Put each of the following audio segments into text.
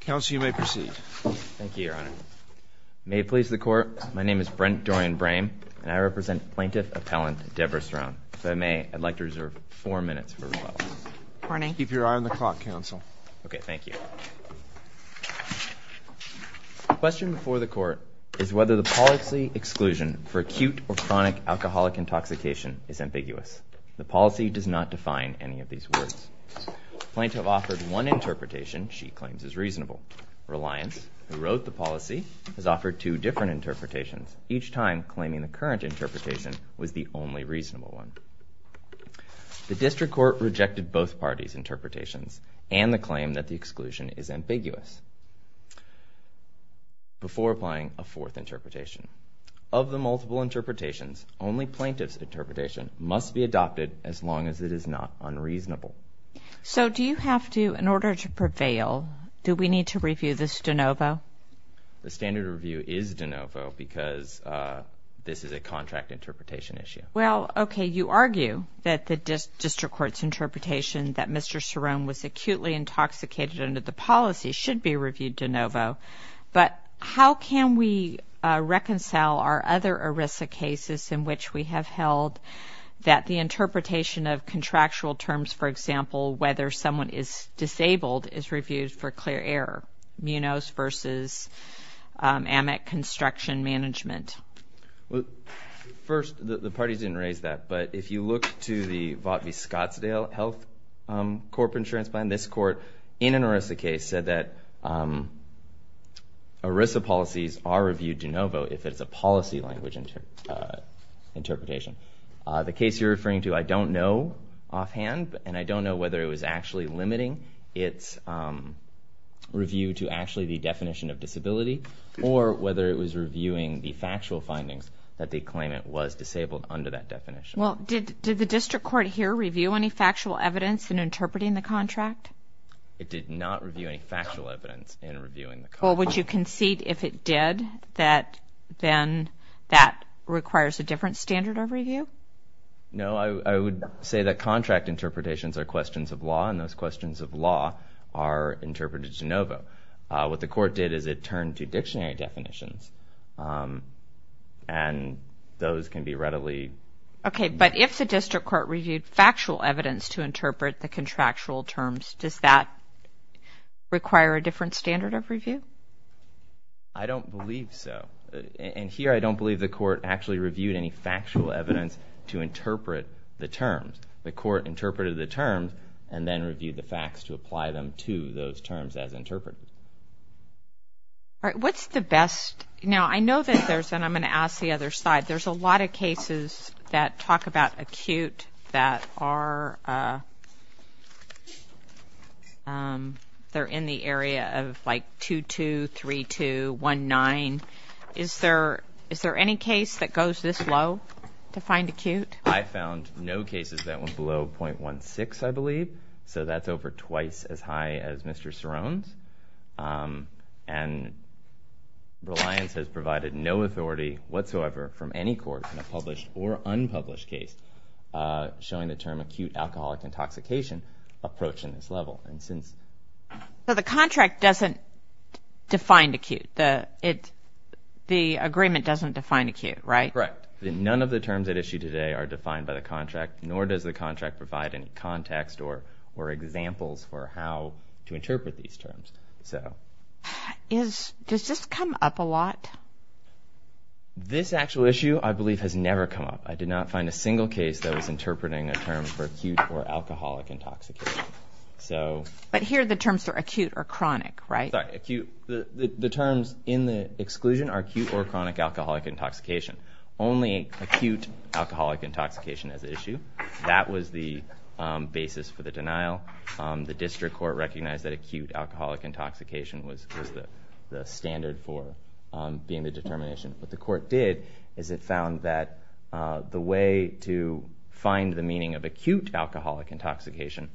Counsel, you may proceed. Thank you, Your Honor. May it please the Court, my name is Brent Dorian Brame and I represent Plaintiff Appellant Debra Cerone. If I may, I'd like to reserve four minutes for rebuttal. Keep your eye on the clock, Counsel. Okay, thank you. The question before the Court is whether the policy exclusion for acute or chronic alcoholic intoxication is ambiguous. The policy does not define any of these words. Plaintiff offered one interpretation she claims is reasonable. Reliance, who wrote the policy, has offered two different interpretations, each time claiming the current interpretation was the only reasonable one. The District Court rejected both parties' interpretations and the claim that the exclusion is ambiguous before applying a fourth interpretation. Of the multiple interpretations, only plaintiff's as long as it is not unreasonable. So, do you have to, in order to prevail, do we need to review this de novo? The standard review is de novo because this is a contract interpretation issue. Well, okay, you argue that the District Court's interpretation that Mr. Cerone was acutely intoxicated under the policy should be reviewed de novo, but how can we reconcile our other ERISA cases in which we have held that the interpretation of contractual terms, for example, whether someone is disabled is reviewed for clear error, munos versus amic construction management? Well, first, the parties didn't raise that, but if you look to the Vought v. Scottsdale health corporate insurance plan, this Court, in an ERISA case, said that ERISA policies are reviewed de novo if it's a policy language interpretation. The case you're referring to, I don't know offhand, and I don't know whether it was actually limiting its review to actually the definition of disability, or whether it was reviewing the factual findings that they claim it was disabled under that definition. Well, did the District Court here review any factual evidence in interpreting the contract? It did not review any factual evidence in reviewing the contract. Well, would you concede if it did that then that requires a different standard of review? No, I would say that contract interpretations are questions of law, and those questions of law are interpreted de novo. What the Court did is it turned to dictionary definitions, and those can be readily... Okay, but if the District Court reviewed factual evidence to interpret the contractual terms, does that require a different standard of review? So, and here I don't believe the Court actually reviewed any factual evidence to interpret the terms. The Court interpreted the terms and then reviewed the facts to apply them to those terms as interpreted. All right, what's the best... Now, I know that there's, and I'm going to ask the other side, there's a lot of cases that talk about acute that are, they're in the area of like 2.2, 3.2, 1.9. Is there any case that goes this low to find acute? I found no cases that went below 0.16, I believe, so that's over twice as high as Mr. Cerone's, and Reliance has provided no authority whatsoever from any court in a published or unpublished case showing the term acute alcoholic intoxication approach in this level, and since... So, the contract doesn't define acute, the agreement doesn't define acute, right? Correct. None of the terms at issue today are defined by the contract, nor does the contract provide any context or examples for how to interpret these terms, so... Does this come up a lot? This actual issue, I believe, has never come up. I did not find a single case that was interpreting a term for acute or alcoholic intoxication, so... But here the terms are acute or chronic, right? The terms in the exclusion are acute or chronic alcoholic intoxication. Only acute alcoholic intoxication as issue. That was the basis for the denial. The district court recognized that acute alcoholic intoxication was the standard for being the determination. What the court did is it found that the way to find the meaning of acute alcoholic intoxication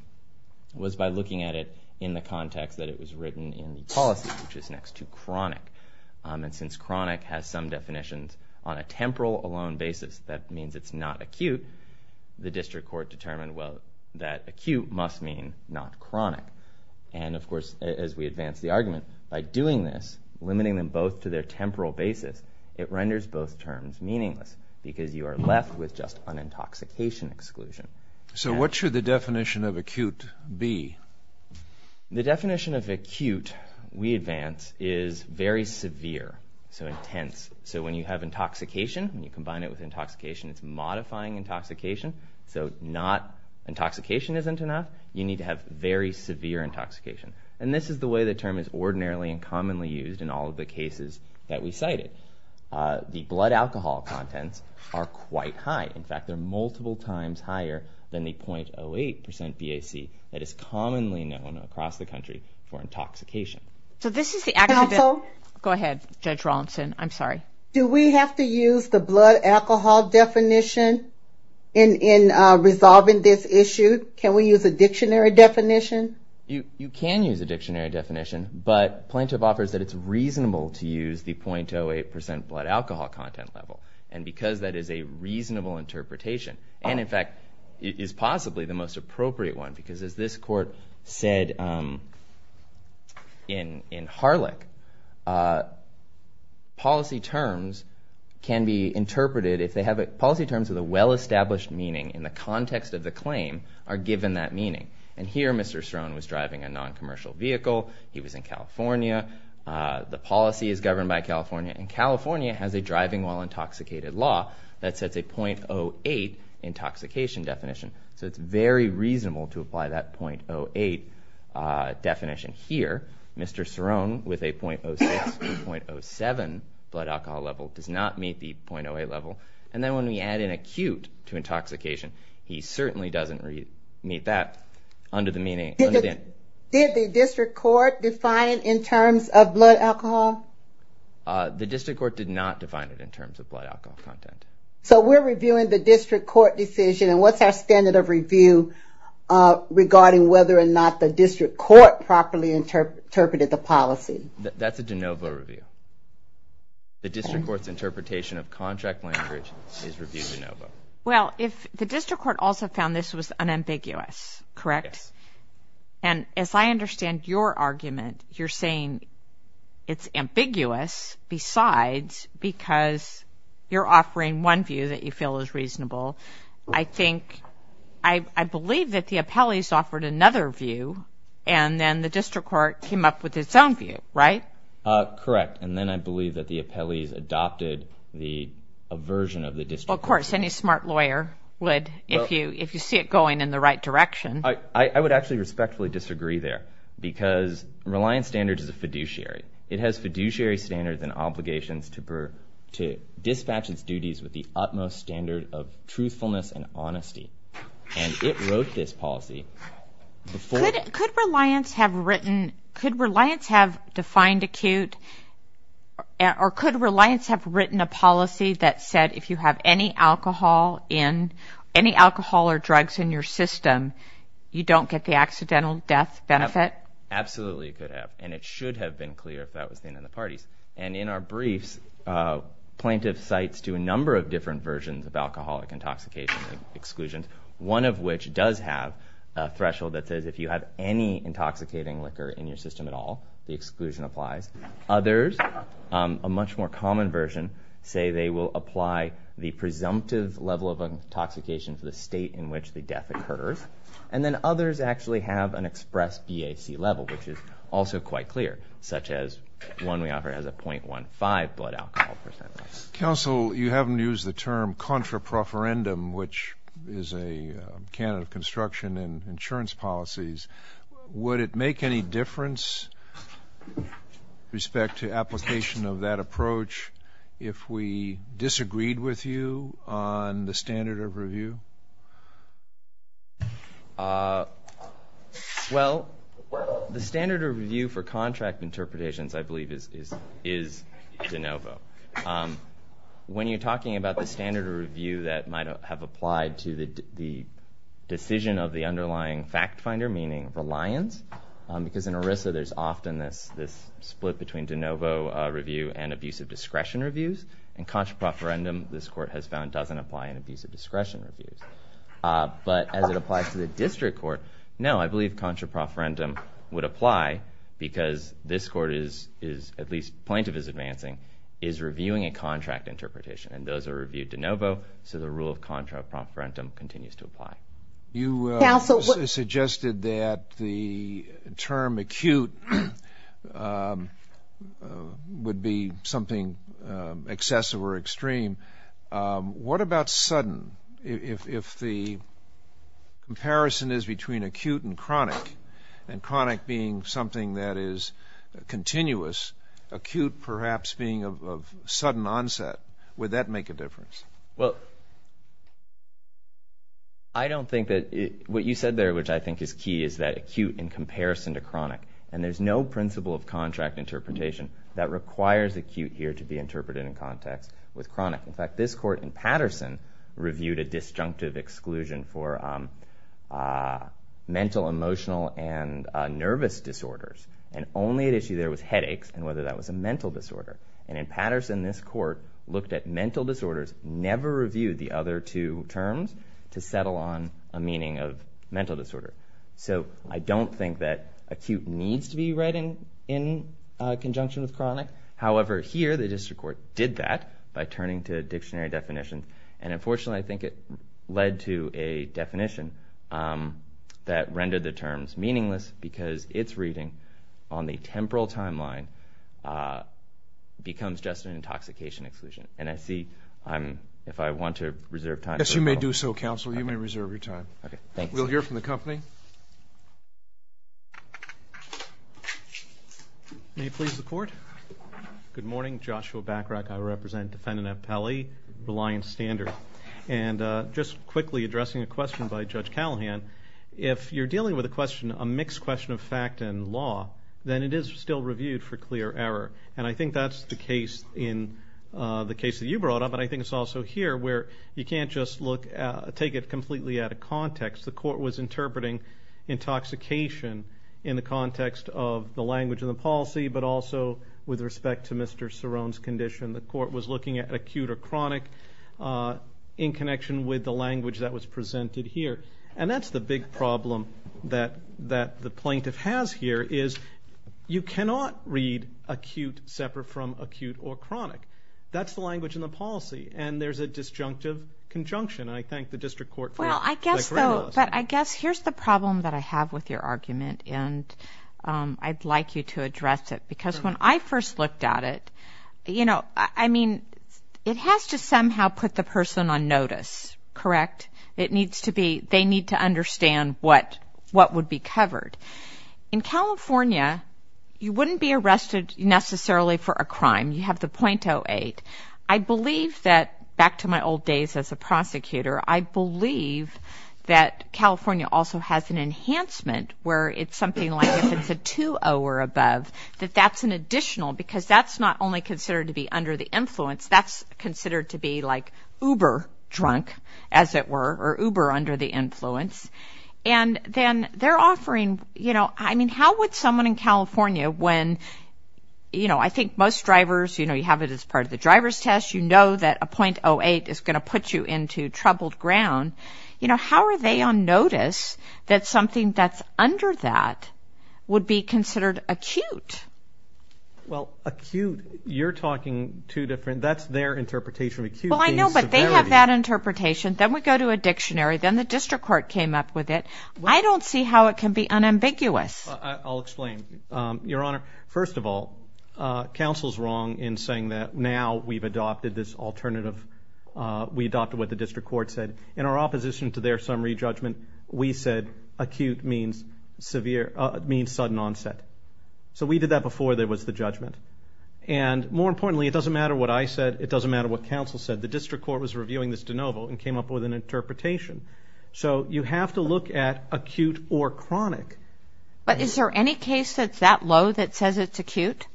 was by looking at it in the context that it was written in the policy, which is next to chronic, and since chronic has some definitions on a temporal alone basis, that means it's not acute, the district court determined, well, that acute must mean not chronic, and of course, as we advance the argument, by doing this, limiting them both to their temporal basis, it renders both terms meaningless, because you are left with just an intoxication exclusion. So what should the definition of acute be? The definition of acute, we advance, is very severe, so intense. So when you have intoxication, when you combine it with intoxication, it's modifying intoxication, so not... Intoxication isn't enough. You need to have very severe intoxication, and this is the way the term is ordinarily and commonly used in all of the cases that we cited. The blood alcohol contents are quite high. In fact, they're multiple times higher than the 0.08% BAC that is commonly known across the country for intoxication. So this is the... Counsel? Go ahead, Judge Rawlinson, I'm sorry. Do we have to use the blood alcohol definition in resolving this issue? Can we use a dictionary definition? You can use a dictionary definition, but plaintiff offers that it's reasonable to use the 0.08% blood alcohol content level, and because that is a reasonable interpretation, and in fact, it is possibly the most appropriate one, because as this court said in Harlech, policy terms can be interpreted if they have... policy terms with a well- Here, Mr. Cerone was driving a non-commercial vehicle. He was in California. The policy is governed by California, and California has a driving while intoxicated law that sets a 0.08% intoxication definition, so it's very reasonable to apply that 0.08% definition here. Mr. Cerone, with a 0.06% to 0.07% blood alcohol level, does not meet the 0.08% level, and then when we add an acute to the meaning... Did the district court define it in terms of blood alcohol? The district court did not define it in terms of blood alcohol content. So we're reviewing the district court decision, and what's our standard of review regarding whether or not the district court properly interpreted the policy? That's a de novo review. The district court's interpretation of contract language is review de novo. Well, if the district court also found this was ambiguous, correct? And as I understand your argument, you're saying it's ambiguous besides because you're offering one view that you feel is reasonable. I think... I believe that the appellees offered another view, and then the district court came up with its own view, right? Correct, and then I believe that the appellees adopted the version of the district court. Of course, any smart lawyer would, if you see it going in the right direction. I would actually respectfully disagree there, because Reliance Standards is a fiduciary. It has fiduciary standards and obligations to dispatch its duties with the utmost standard of truthfulness and honesty, and it wrote this policy... Could Reliance have written... Could Reliance have defined acute, or could Reliance have written a policy that said if you have any alcohol in... Any alcohol or drugs in your system, you don't get the accidental death benefit? Absolutely, it could have, and it should have been clear if that was the end of the parties, and in our briefs, plaintiffs cites to a number of different versions of alcoholic intoxication exclusions, one of which does have a threshold that says if you have any intoxicating liquor in your system at all, the exclusion applies. Others, a much more common version, say they will apply the presumptive level of intoxication to the state in which the death occurs, and then others actually have an express BAC level, which is also quite clear, such as one we offer as a 0.15 blood alcohol percentage. Counsel, you haven't used the term contrapreferendum, which is a can of construction and insurance policies. Would it make any difference, with respect to application of that approach, if we disagreed with you on the standard of review? Well, the standard of review for contract interpretations, I believe, is de novo. When you're talking about the standard of review that might have applied to the decision of the reliance, because in ERISA there's often this split between de novo review and abusive discretion reviews, and contrapreferendum, this court has found, doesn't apply in abusive discretion reviews. But as it applies to the district court, no, I believe contrapreferendum would apply, because this court is, at least plaintiff is advancing, is reviewing a contract interpretation, and those are reviewed de novo, so the rule of contrapreferendum continues to apply. You suggested that the term acute would be something excessive or extreme. What about sudden? If the comparison is between acute and chronic, and chronic being something that is continuous, acute perhaps being of sudden onset, would that make a difference? Well, I don't think that, what you said there, which I think is key, is that acute in comparison to chronic, and there's no principle of contract interpretation that requires acute here to be interpreted in context with chronic. In fact, this court in Patterson reviewed a disjunctive exclusion for mental, emotional, and nervous disorders, and only at issue there was headaches, and whether that was a mental disorder. And in Patterson, this court looked at mental disorders, never reviewed the other two terms to settle on a meaning of mental disorder. So I don't think that acute needs to be read in conjunction with chronic. However, here the district court did that by turning to a dictionary definition, and unfortunately I think it led to a definition that rendered the terms meaningless, because its reading on the temporal timeline becomes just an intoxication exclusion. And I see, if I want to reserve time... Yes, you may do so, counsel. You may reserve your time. Okay, thanks. We'll hear from the company. May it please the court. Good morning, Joshua Bachrach. I represent defendant Appelli, Reliance Standard. And just quickly addressing a question by Judge Acton Law, then it is still reviewed for clear error. And I think that's the case in the case that you brought up, and I think it's also here where you can't just take it completely out of context. The court was interpreting intoxication in the context of the language and the policy, but also with respect to Mr. Cerone's condition. The court was looking at acute or chronic in connection with the language that was presented here. And that's the big problem that the plaintiff has here, is you cannot read acute separate from acute or chronic. That's the language in the policy, and there's a disjunctive conjunction. And I thank the district court for it. Well, I guess though, but I guess here's the problem that I have with your argument, and I'd like you to address it. Because when I first looked at it, you know, I mean, it has to somehow put the person on notice, correct? It In California, you wouldn't be arrested necessarily for a crime. You have the .08. I believe that, back to my old days as a prosecutor, I believe that California also has an enhancement where it's something like if it's a 2.0 or above, that that's an additional, because that's not only considered to be under the influence, that's considered to be like uber drunk, as it were, or uber under the influence. I mean, how would someone in California, when, you know, I think most drivers, you know, you have it as part of the driver's test, you know that a .08 is going to put you into troubled ground. You know, how are they on notice that something that's under that would be considered acute? Well, acute, you're talking two different, that's their interpretation. Acute means severity. Well, I know, but they have that interpretation. Then we go to a dictionary. Then the district court came up with it. I don't see how it can be unambiguous. I'll explain. Your Honor, first of all, counsel's wrong in saying that now we've adopted this alternative. We adopted what the district court said. In our opposition to their summary judgment, we said acute means severe, means sudden onset. So we did that before there was the judgment. And more importantly, it doesn't matter what I said. It doesn't matter what counsel said. The district court was reviewing this de novo and came up with an interpretation. So you have to look at acute or chronic. But is there any case that's that low that says it's acute?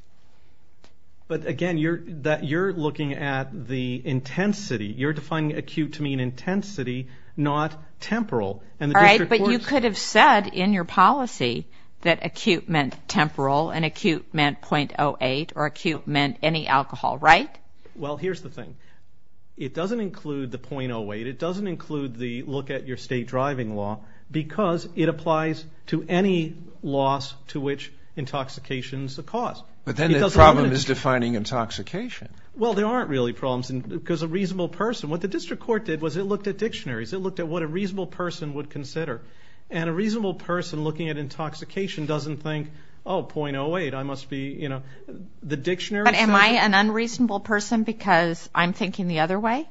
But again, you're looking at the intensity. You're defining acute to mean intensity, not temporal. All right, but you could have said in your policy that acute meant temporal and acute meant .08 or acute meant any alcohol, right? Well, here's the thing. It doesn't include the .08. It doesn't include the look at your state driving law because it applies to any loss to which intoxication's a cause. But then the problem is defining intoxication. Well, there aren't really problems because a reasonable person, what the district court did was it looked at dictionaries. It looked at what a reasonable person would consider. And a reasonable person looking at intoxication doesn't think, oh, .08, I must be, you know, the dictionary. But am I an unreasonable person because I'm thinking the other way?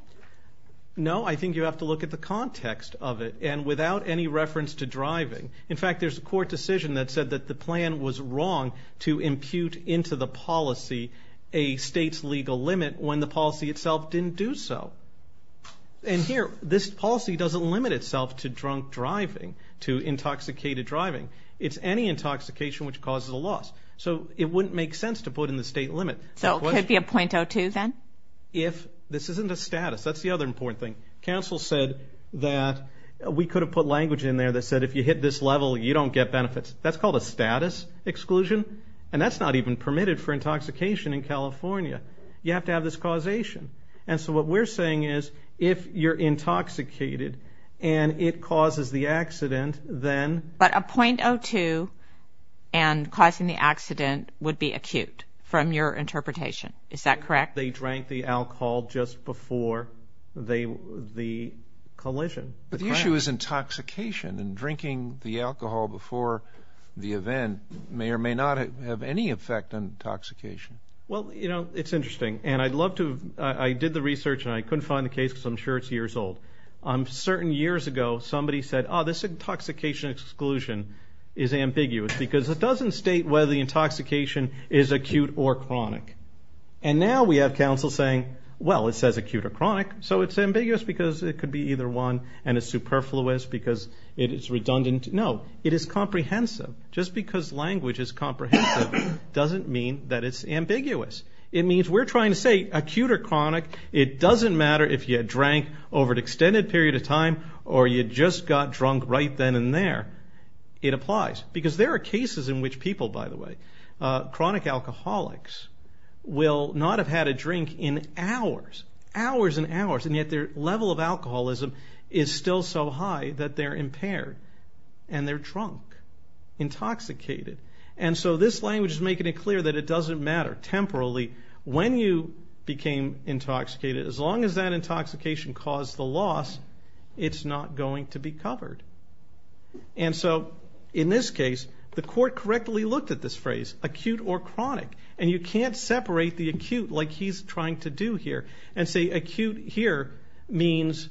No, I think you have to look at the context of it. And without any reference to driving, in fact, there's a court decision that said that the plan was wrong to impute into the policy a state's legal limit when the policy itself didn't do so. And here, this policy doesn't limit itself to drunk driving, to intoxicated driving. It's any intoxication which causes a loss. So it wouldn't make sense to put in the state limit. So it could be a .02 then? If this isn't a status. That's the other important thing. Council said that we could have put language in there that said if you hit this level, you don't get benefits. That's called a status exclusion. And that's not even permitted for intoxication in California. You have to have this causation. And so what we're saying is if you're intoxicated and it causes the accident, then... But a .02 and causing the accident would be acute from your interpretation. Is that correct? They drank the alcohol just before the collision. But the issue is intoxication. And drinking the alcohol before the event may or may not have any effect on intoxication. Well, you know, it's interesting. And I'd love to... I did the research and I couldn't find the case because I'm sure it's years old. Certain years ago, somebody said, oh, this intoxication exclusion is ambiguous because it doesn't state whether the intoxication is acute or chronic. And now we have council saying, well, it says acute or chronic, so it's ambiguous because it could be either one and it's superfluous because it is redundant. No, it is comprehensive. Just because language is comprehensive doesn't mean that it's ambiguous. It means we're trying to say acute or chronic. It doesn't matter if you had drank over an extended period of time or you just got drunk right then and there. It applies. Because there are cases in which people, by the way, chronic alcoholics will not have had a drink in hours, hours and hours, and yet their level of alcoholism is still so high that they're impaired and they're drunk, intoxicated. And so this language is making it clear that it doesn't matter temporally when you became intoxicated. As long as that intoxication caused the loss, it's not going to be covered. And so in this case, the court correctly looked at this phrase, acute or chronic, and you can't separate the acute like he's trying to do here and say acute here means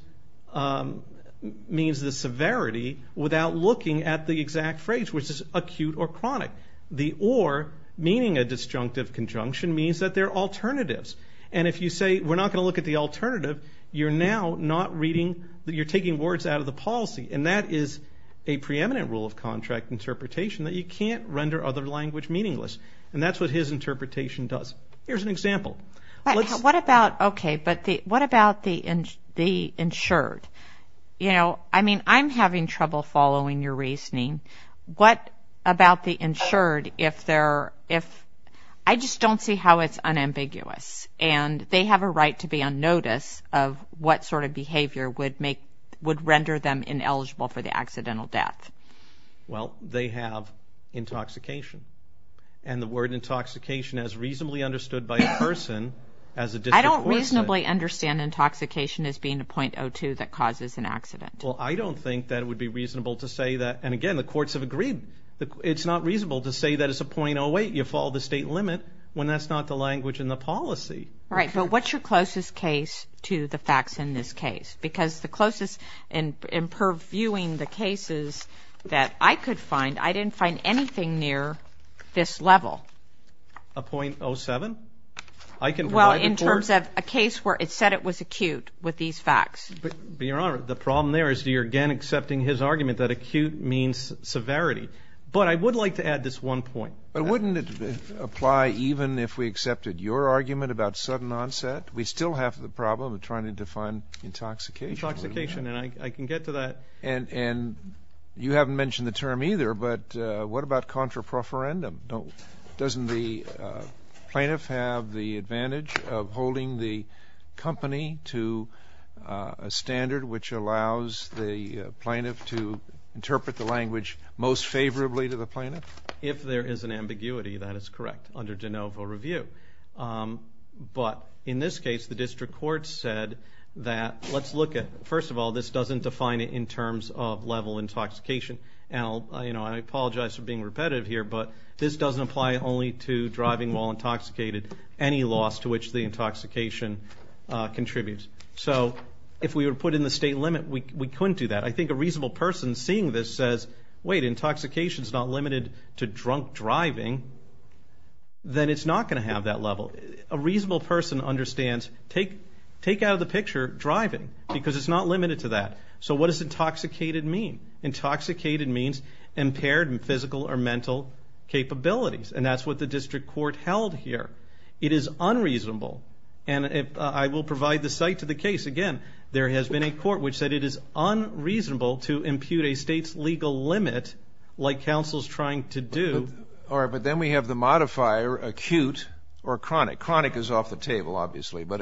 the severity without looking at the exact phrase, which is acute or chronic. The or, meaning a disjunctive conjunction, means that they're alternatives. And if you say we're not going to look at the alternative, you're now not reading, you're taking words out of the policy. And that is a preeminent rule of contract interpretation that you can't render other language meaningless. And that's what his interpretation does. Here's an example. What about, okay, but what about the insured? You know, I mean, I'm having trouble following your reasoning. What about the insured if they're, if, I just don't see how it's unambiguous. And they have a right to be on notice of what sort of behavior would make, would render them ineligible for the accidental death. Well, they have intoxication. And the word intoxication is reasonably understood by a person as a disreportion. I don't reasonably understand intoxication as being a .02 that causes an accident. Well, I don't think that it would be reasonable to say that, and again, the courts have agreed, it's not reasonable to say that it's a .08. You fall the state limit when that's not the language in the policy. Right, but what's your closest case to the facts in this case? Because the closest in purviewing the cases that I could find, I didn't find anything near this level. A .07? I can provide the court... Well, in terms of a case where it said it was acute with these facts. But, Your Honor, the problem there is you're again accepting his argument that severity. But I would like to add this one point. But wouldn't it apply even if we accepted your argument about sudden onset? We still have the problem of trying to define intoxication. Intoxication, and I can get to that. And, and you haven't mentioned the term either, but what about contraproferendum? Doesn't the plaintiff have the advantage of holding the company to a standard which allows the plaintiff to most favorably to the plaintiff? If there is an ambiguity, that is correct, under de novo review. But in this case, the district court said that, let's look at, first of all, this doesn't define it in terms of level intoxication. Now, you know, I apologize for being repetitive here, but this doesn't apply only to driving while intoxicated, any loss to which the intoxication contributes. So, if we were put in the state limit, we couldn't do that. I think a reasonable person seeing this says, wait, intoxication is not limited to drunk driving, then it's not going to have that level. A reasonable person understands, take out of the picture driving, because it's not limited to that. So what does intoxicated mean? Intoxicated means impaired in physical or mental capabilities, and that's what the district court held here. It is unreasonable, and I will provide the site to the case again. There has been a court which said it is unreasonable to impute a state's legal limit like counsel's trying to do. All right, but then we have the modifier acute or chronic. Chronic is off the table, obviously, but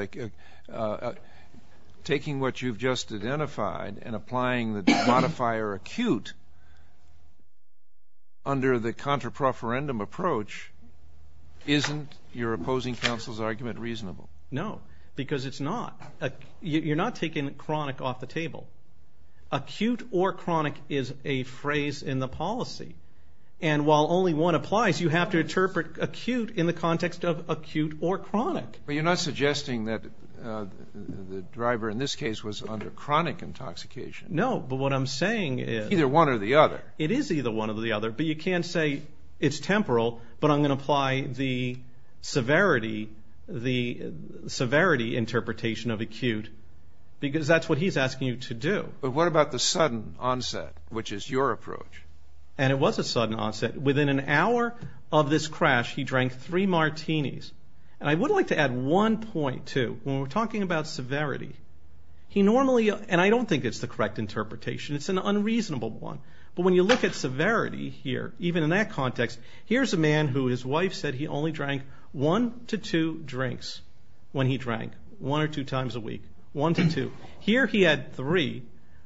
taking what you've just identified and applying the modifier acute under the contra-preferendum approach, isn't your opposing counsel's argument reasonable? You're not taking chronic off the table. Acute or chronic is a phrase in the policy, and while only one applies, you have to interpret acute in the context of acute or chronic. But you're not suggesting that the driver in this case was under chronic intoxication. No, but what I'm saying is... It's either one or the other. It is either one or the other, but you can't say it's temporal, but I'm going to apply the severity, the severity interpretation of acute, because that's what he's asking you to do. But what about the sudden onset, which is your approach? And it was a sudden onset. Within an hour of this crash, he drank three martinis. And I would like to add one point, too. When we're talking about severity, he normally... And I don't think it's the correct interpretation. It's an unreasonable one. But when you look at severity here, even in that context, here's a man who his wife said he only drank one to two drinks when he drank. One or two times a week. One to two. Here he had three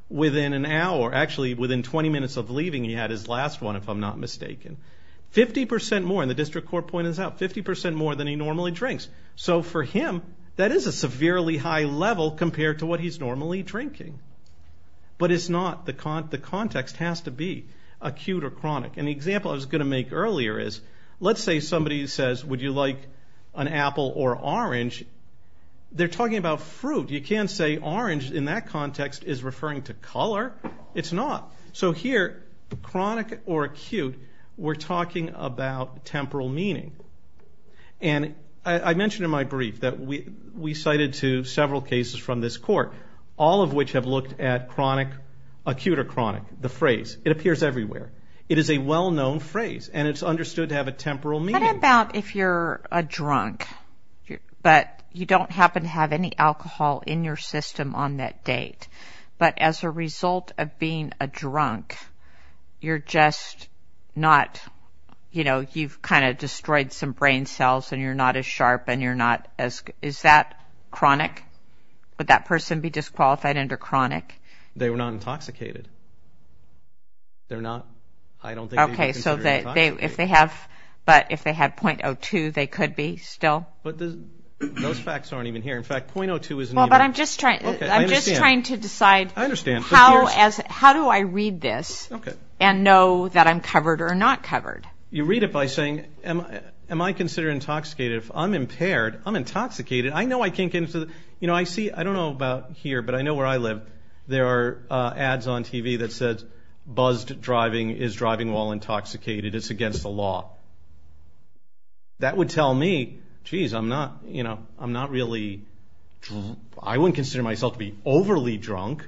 within an hour. Actually, within twenty minutes of leaving, he had his last one, if I'm not mistaken. Fifty percent more. And the district court pointed this out. Fifty percent more than he normally drinks. So for him, that is a severely high level compared to what he's normally drinking. But it's not. The context has to be acute or chronic. And the example I was going to make earlier is, let's say somebody says, would you like an apple or orange? They're talking about fruit. You can't say orange in that context is referring to color. It's not. So here, chronic or acute, we're talking about temporal meaning. And I mentioned in my brief that we cited to several cases from this court, all of which have looked at chronic, acute or chronic. The phrase. It appears everywhere. It is a well-known phrase. And it's understood to have a temporal meaning. What about if you're a drunk? But you don't happen to have any alcohol in your system on that date. But as a result of being a drunk, you're just not, you know, you've kind of destroyed some brain cells and you're not as sharp and you're not as... Is that chronic? Would that person be disqualified under chronic? They were not intoxicated. They're not. I don't think they would be considered intoxicated. But if they had .02, they could be still? But those facts aren't even here. In fact, .02 isn't even... I'm just trying to decide how do I read this and know that I'm covered or not covered? You read it by saying, am I considered intoxicated? If I'm impaired, I'm intoxicated. I know I can't get into the... You know, I see, I don't know about here, but I know where I live, there are ads on TV that said buzzed driving is driving while intoxicated. It's against the law. That would tell me, geez, I'm not, you know, I'm not really... I wouldn't consider myself to be overly drunk,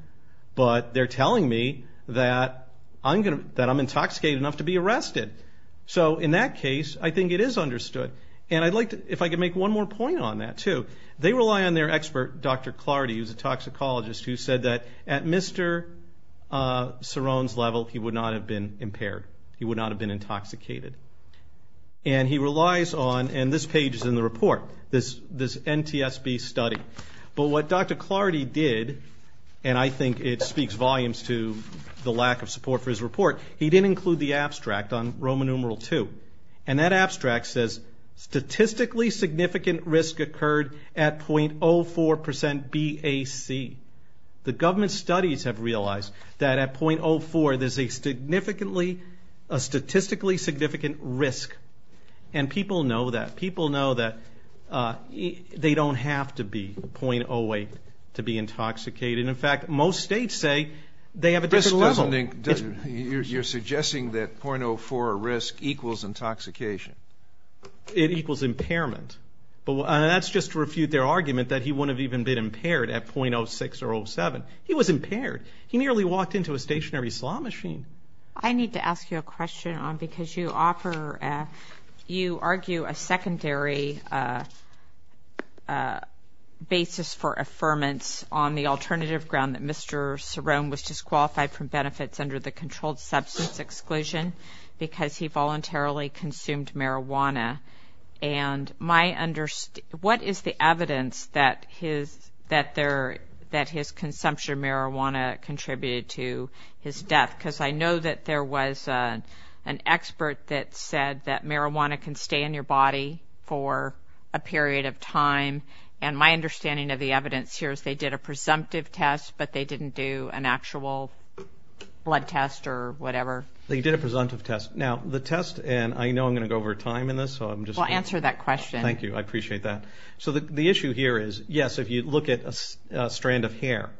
but they're telling me that I'm intoxicated enough to be arrested. So in that case, I think it is understood. And I'd like to, if I could make one more point on that too. They rely on their expert, Dr. Clardy, who's a toxicologist, who said that at Mr. Cerrone's level, he would not have been impaired. He would not have been intoxicated. And he relies on, and this page is in the report, this NTSB study. But what Dr. Clardy did, and I think it speaks volumes to the lack of support for his report, he didn't include the abstract on Roman numeral two. And that abstract says, statistically significant risk occurred at .04% BAC. The government studies have realized that at .04, there's a significantly, a statistically significant risk. And people know that. People know that they don't have to be .08 to be intoxicated. In fact, most states say they have a different level. You're suggesting that .04 risk equals intoxication. It equals impairment. That's just to refute their argument that he wouldn't have even been impaired at .06 or .07. He was impaired. He nearly walked into a stationary slot machine. I need to ask you a question, because you offer, you argue a secondary basis for affirmance on the alternative ground that Mr. Cerrone was disqualified from benefits under the controlled substance exclusion because he voluntarily consumed marijuana. And my, what is the evidence that his, that there, that his consumption of marijuana contributed to his death? Because I know that there was an expert that said that marijuana can stay in your body for a period of time. And my understanding of the evidence here is they did a presumptive test, but they didn't do an actual blood test or whatever. They did a presumptive test. Now, the test, and I know I'm going to go over time in this, so I'm just going to... Well, answer that question. Thank you. I appreciate that. So the issue here is, yes, if you look at a strand of hair,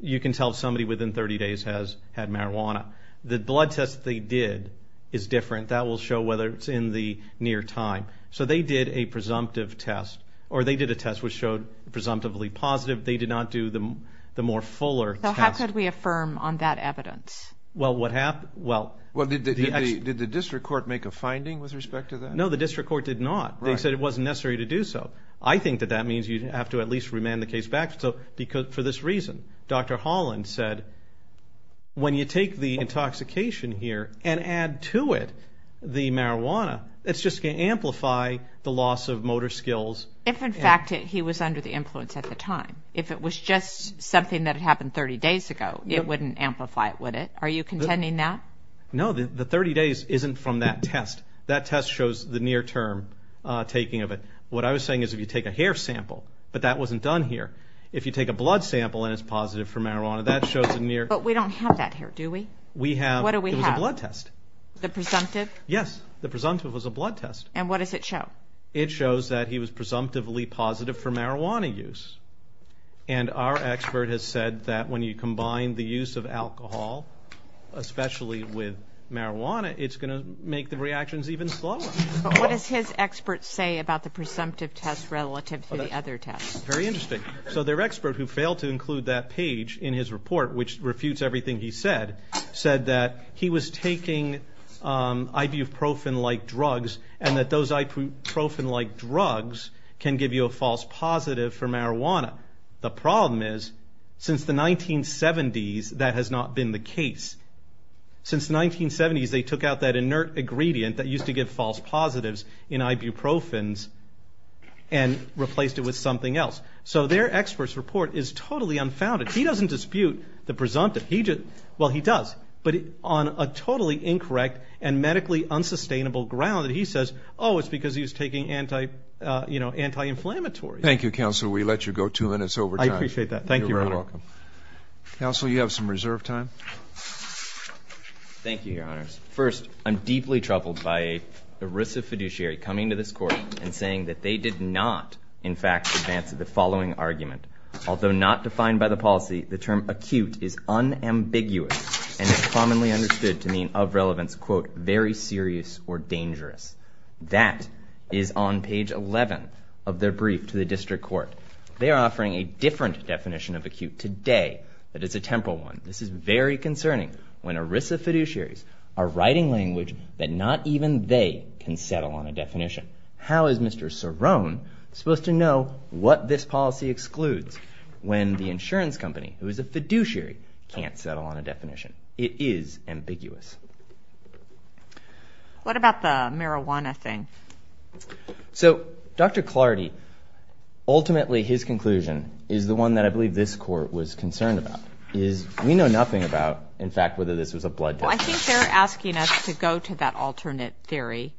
you can tell somebody within thirty days has had marijuana. The blood test they did is different. That will show whether it's in the near time. So they did a presumptive test, or they did a test which showed presumptively positive. They did not do the more fuller test. So how could we affirm on that evidence? Well, what happened, well... Well, did the district court make a finding with respect to that? No, the district court did not. They said it wasn't necessary to do so. I think that that means you'd have to at least remand the case back. So, because, for this reason, Dr. Holland said, when you take the intoxication here and add to it the marijuana, it's just going to amplify the loss of motor skills. If, in fact, he was under the influence at the time. If it was just something that happened thirty days ago, it wouldn't amplify it, would it? Are you contending that? No, the thirty days isn't from that test. That test shows the near-term taking of it. What I was saying is, if you take a hair sample, but that wasn't done here. If you take a blood sample and it's positive for marijuana, that shows a near... But we don't have that here, do we? We have... What do we have? It was a blood test. The presumptive? Yes. The presumptive was a blood test. And what does it show? It shows that he was presumptively positive for marijuana use. And our expert has said that when you combine the use of alcohol, especially with marijuana, it's going to make the reactions even slower. But what does his expert say about the presumptive test relative to the other tests? Very interesting. So, their expert, who failed to include that page in his report, which refutes everything he said, said that he was taking ibuprofen-like drugs, and that those ibuprofen-like drugs can give you a false positive for marijuana. The problem is, since the 1970s, that has not been the case. Since the 1970s, they took out that inert ingredient that used to give false positives in ibuprofens and replaced it with something else. So their expert's report is totally unfounded. He doesn't dispute the presumptive. Well, he does. But on a totally incorrect and medically unsustainable ground, he says, oh, it's because he was taking anti-inflammatories. Thank you, counsel. We let you go two minutes over time. I appreciate that. Thank you, Your Honor. Counsel, you have some reserve time. Thank you, Your Honors. First, I'm deeply troubled by ERISA fiduciary coming to this court and saying that they did not, in fact, advance the following argument. Although not defined by the policy, the term acute is unambiguous and is commonly understood to mean of relevance, quote, very serious or dangerous. That is on page 11 of their brief to the district court. They are offering a different definition of acute today, but it's a temporal one. This is very concerning when ERISA fiduciaries are writing language that not even they can settle on a definition. How is Mr. Cerrone supposed to know what this policy excludes when the insurance company, who is a fiduciary, can't settle on a definition? It is ambiguous. What about the marijuana thing? So, Dr. Clardy, ultimately his conclusion is the one that I believe this court was concerned about. We know nothing about, in fact, whether this was a blood test. Well, I think they're asking us to go to that alternate theory.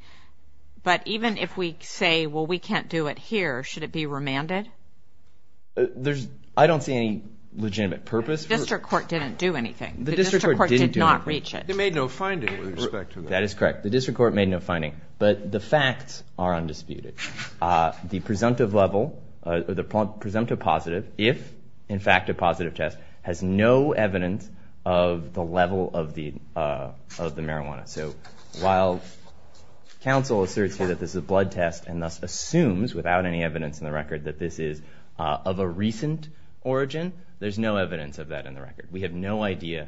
But even if we say, well, we can't do it here, should it be remanded? I don't see any legitimate purpose. The district court didn't do anything. The district court did not reach it. They made no finding with respect to that. That is correct. The district court made no finding. But the facts are undisputed. The presumptive level, the presumptive positive, if, in fact, a positive test, has no evidence of the level of the marijuana. So while counsel asserts here that this is a blood test and thus assumes, without any evidence in the record, that this is of a recent origin, there's no evidence of that in the record. We have no idea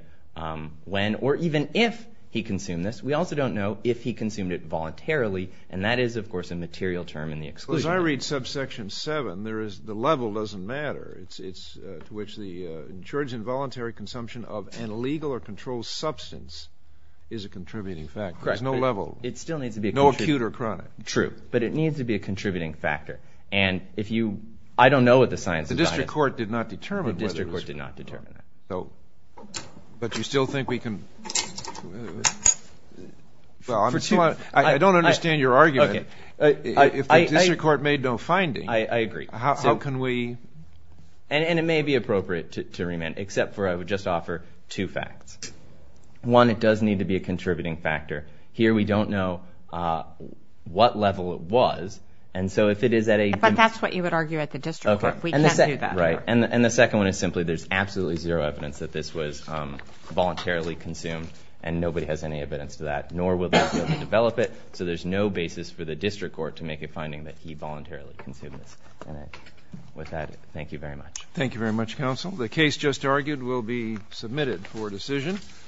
when or even if he consumed this. We also don't know if he consumed it voluntarily. And that is, of course, a material term in the exclusion. Well, as I read subsection 7, the level doesn't matter. It's to which the insurance involuntary consumption of an illegal or controlled substance is a contributing factor. There's no level. It still needs to be. No acute or chronic. True, but it needs to be a contributing factor. And if you, I don't know what the science is on it. The district court did not determine whether it was. The district court did not determine that. So, but you still think we can, well, I don't understand your argument. If the district court made no finding. I agree. How can we. And it may be appropriate to remand, except for I would just offer two facts. One, it does need to be a contributing factor. Here we don't know what level it was. And so if it is at a. But that's what you would argue at the district court. We can't do that. Right. And the second one is simply there's absolutely zero evidence that this was voluntarily consumed. And nobody has any evidence to that, nor will they be able to develop it. So there's no basis for the district court to make a finding that he voluntarily consumed this. With that, thank you very much. Thank you very much, counsel. The case just argued will be submitted for decision.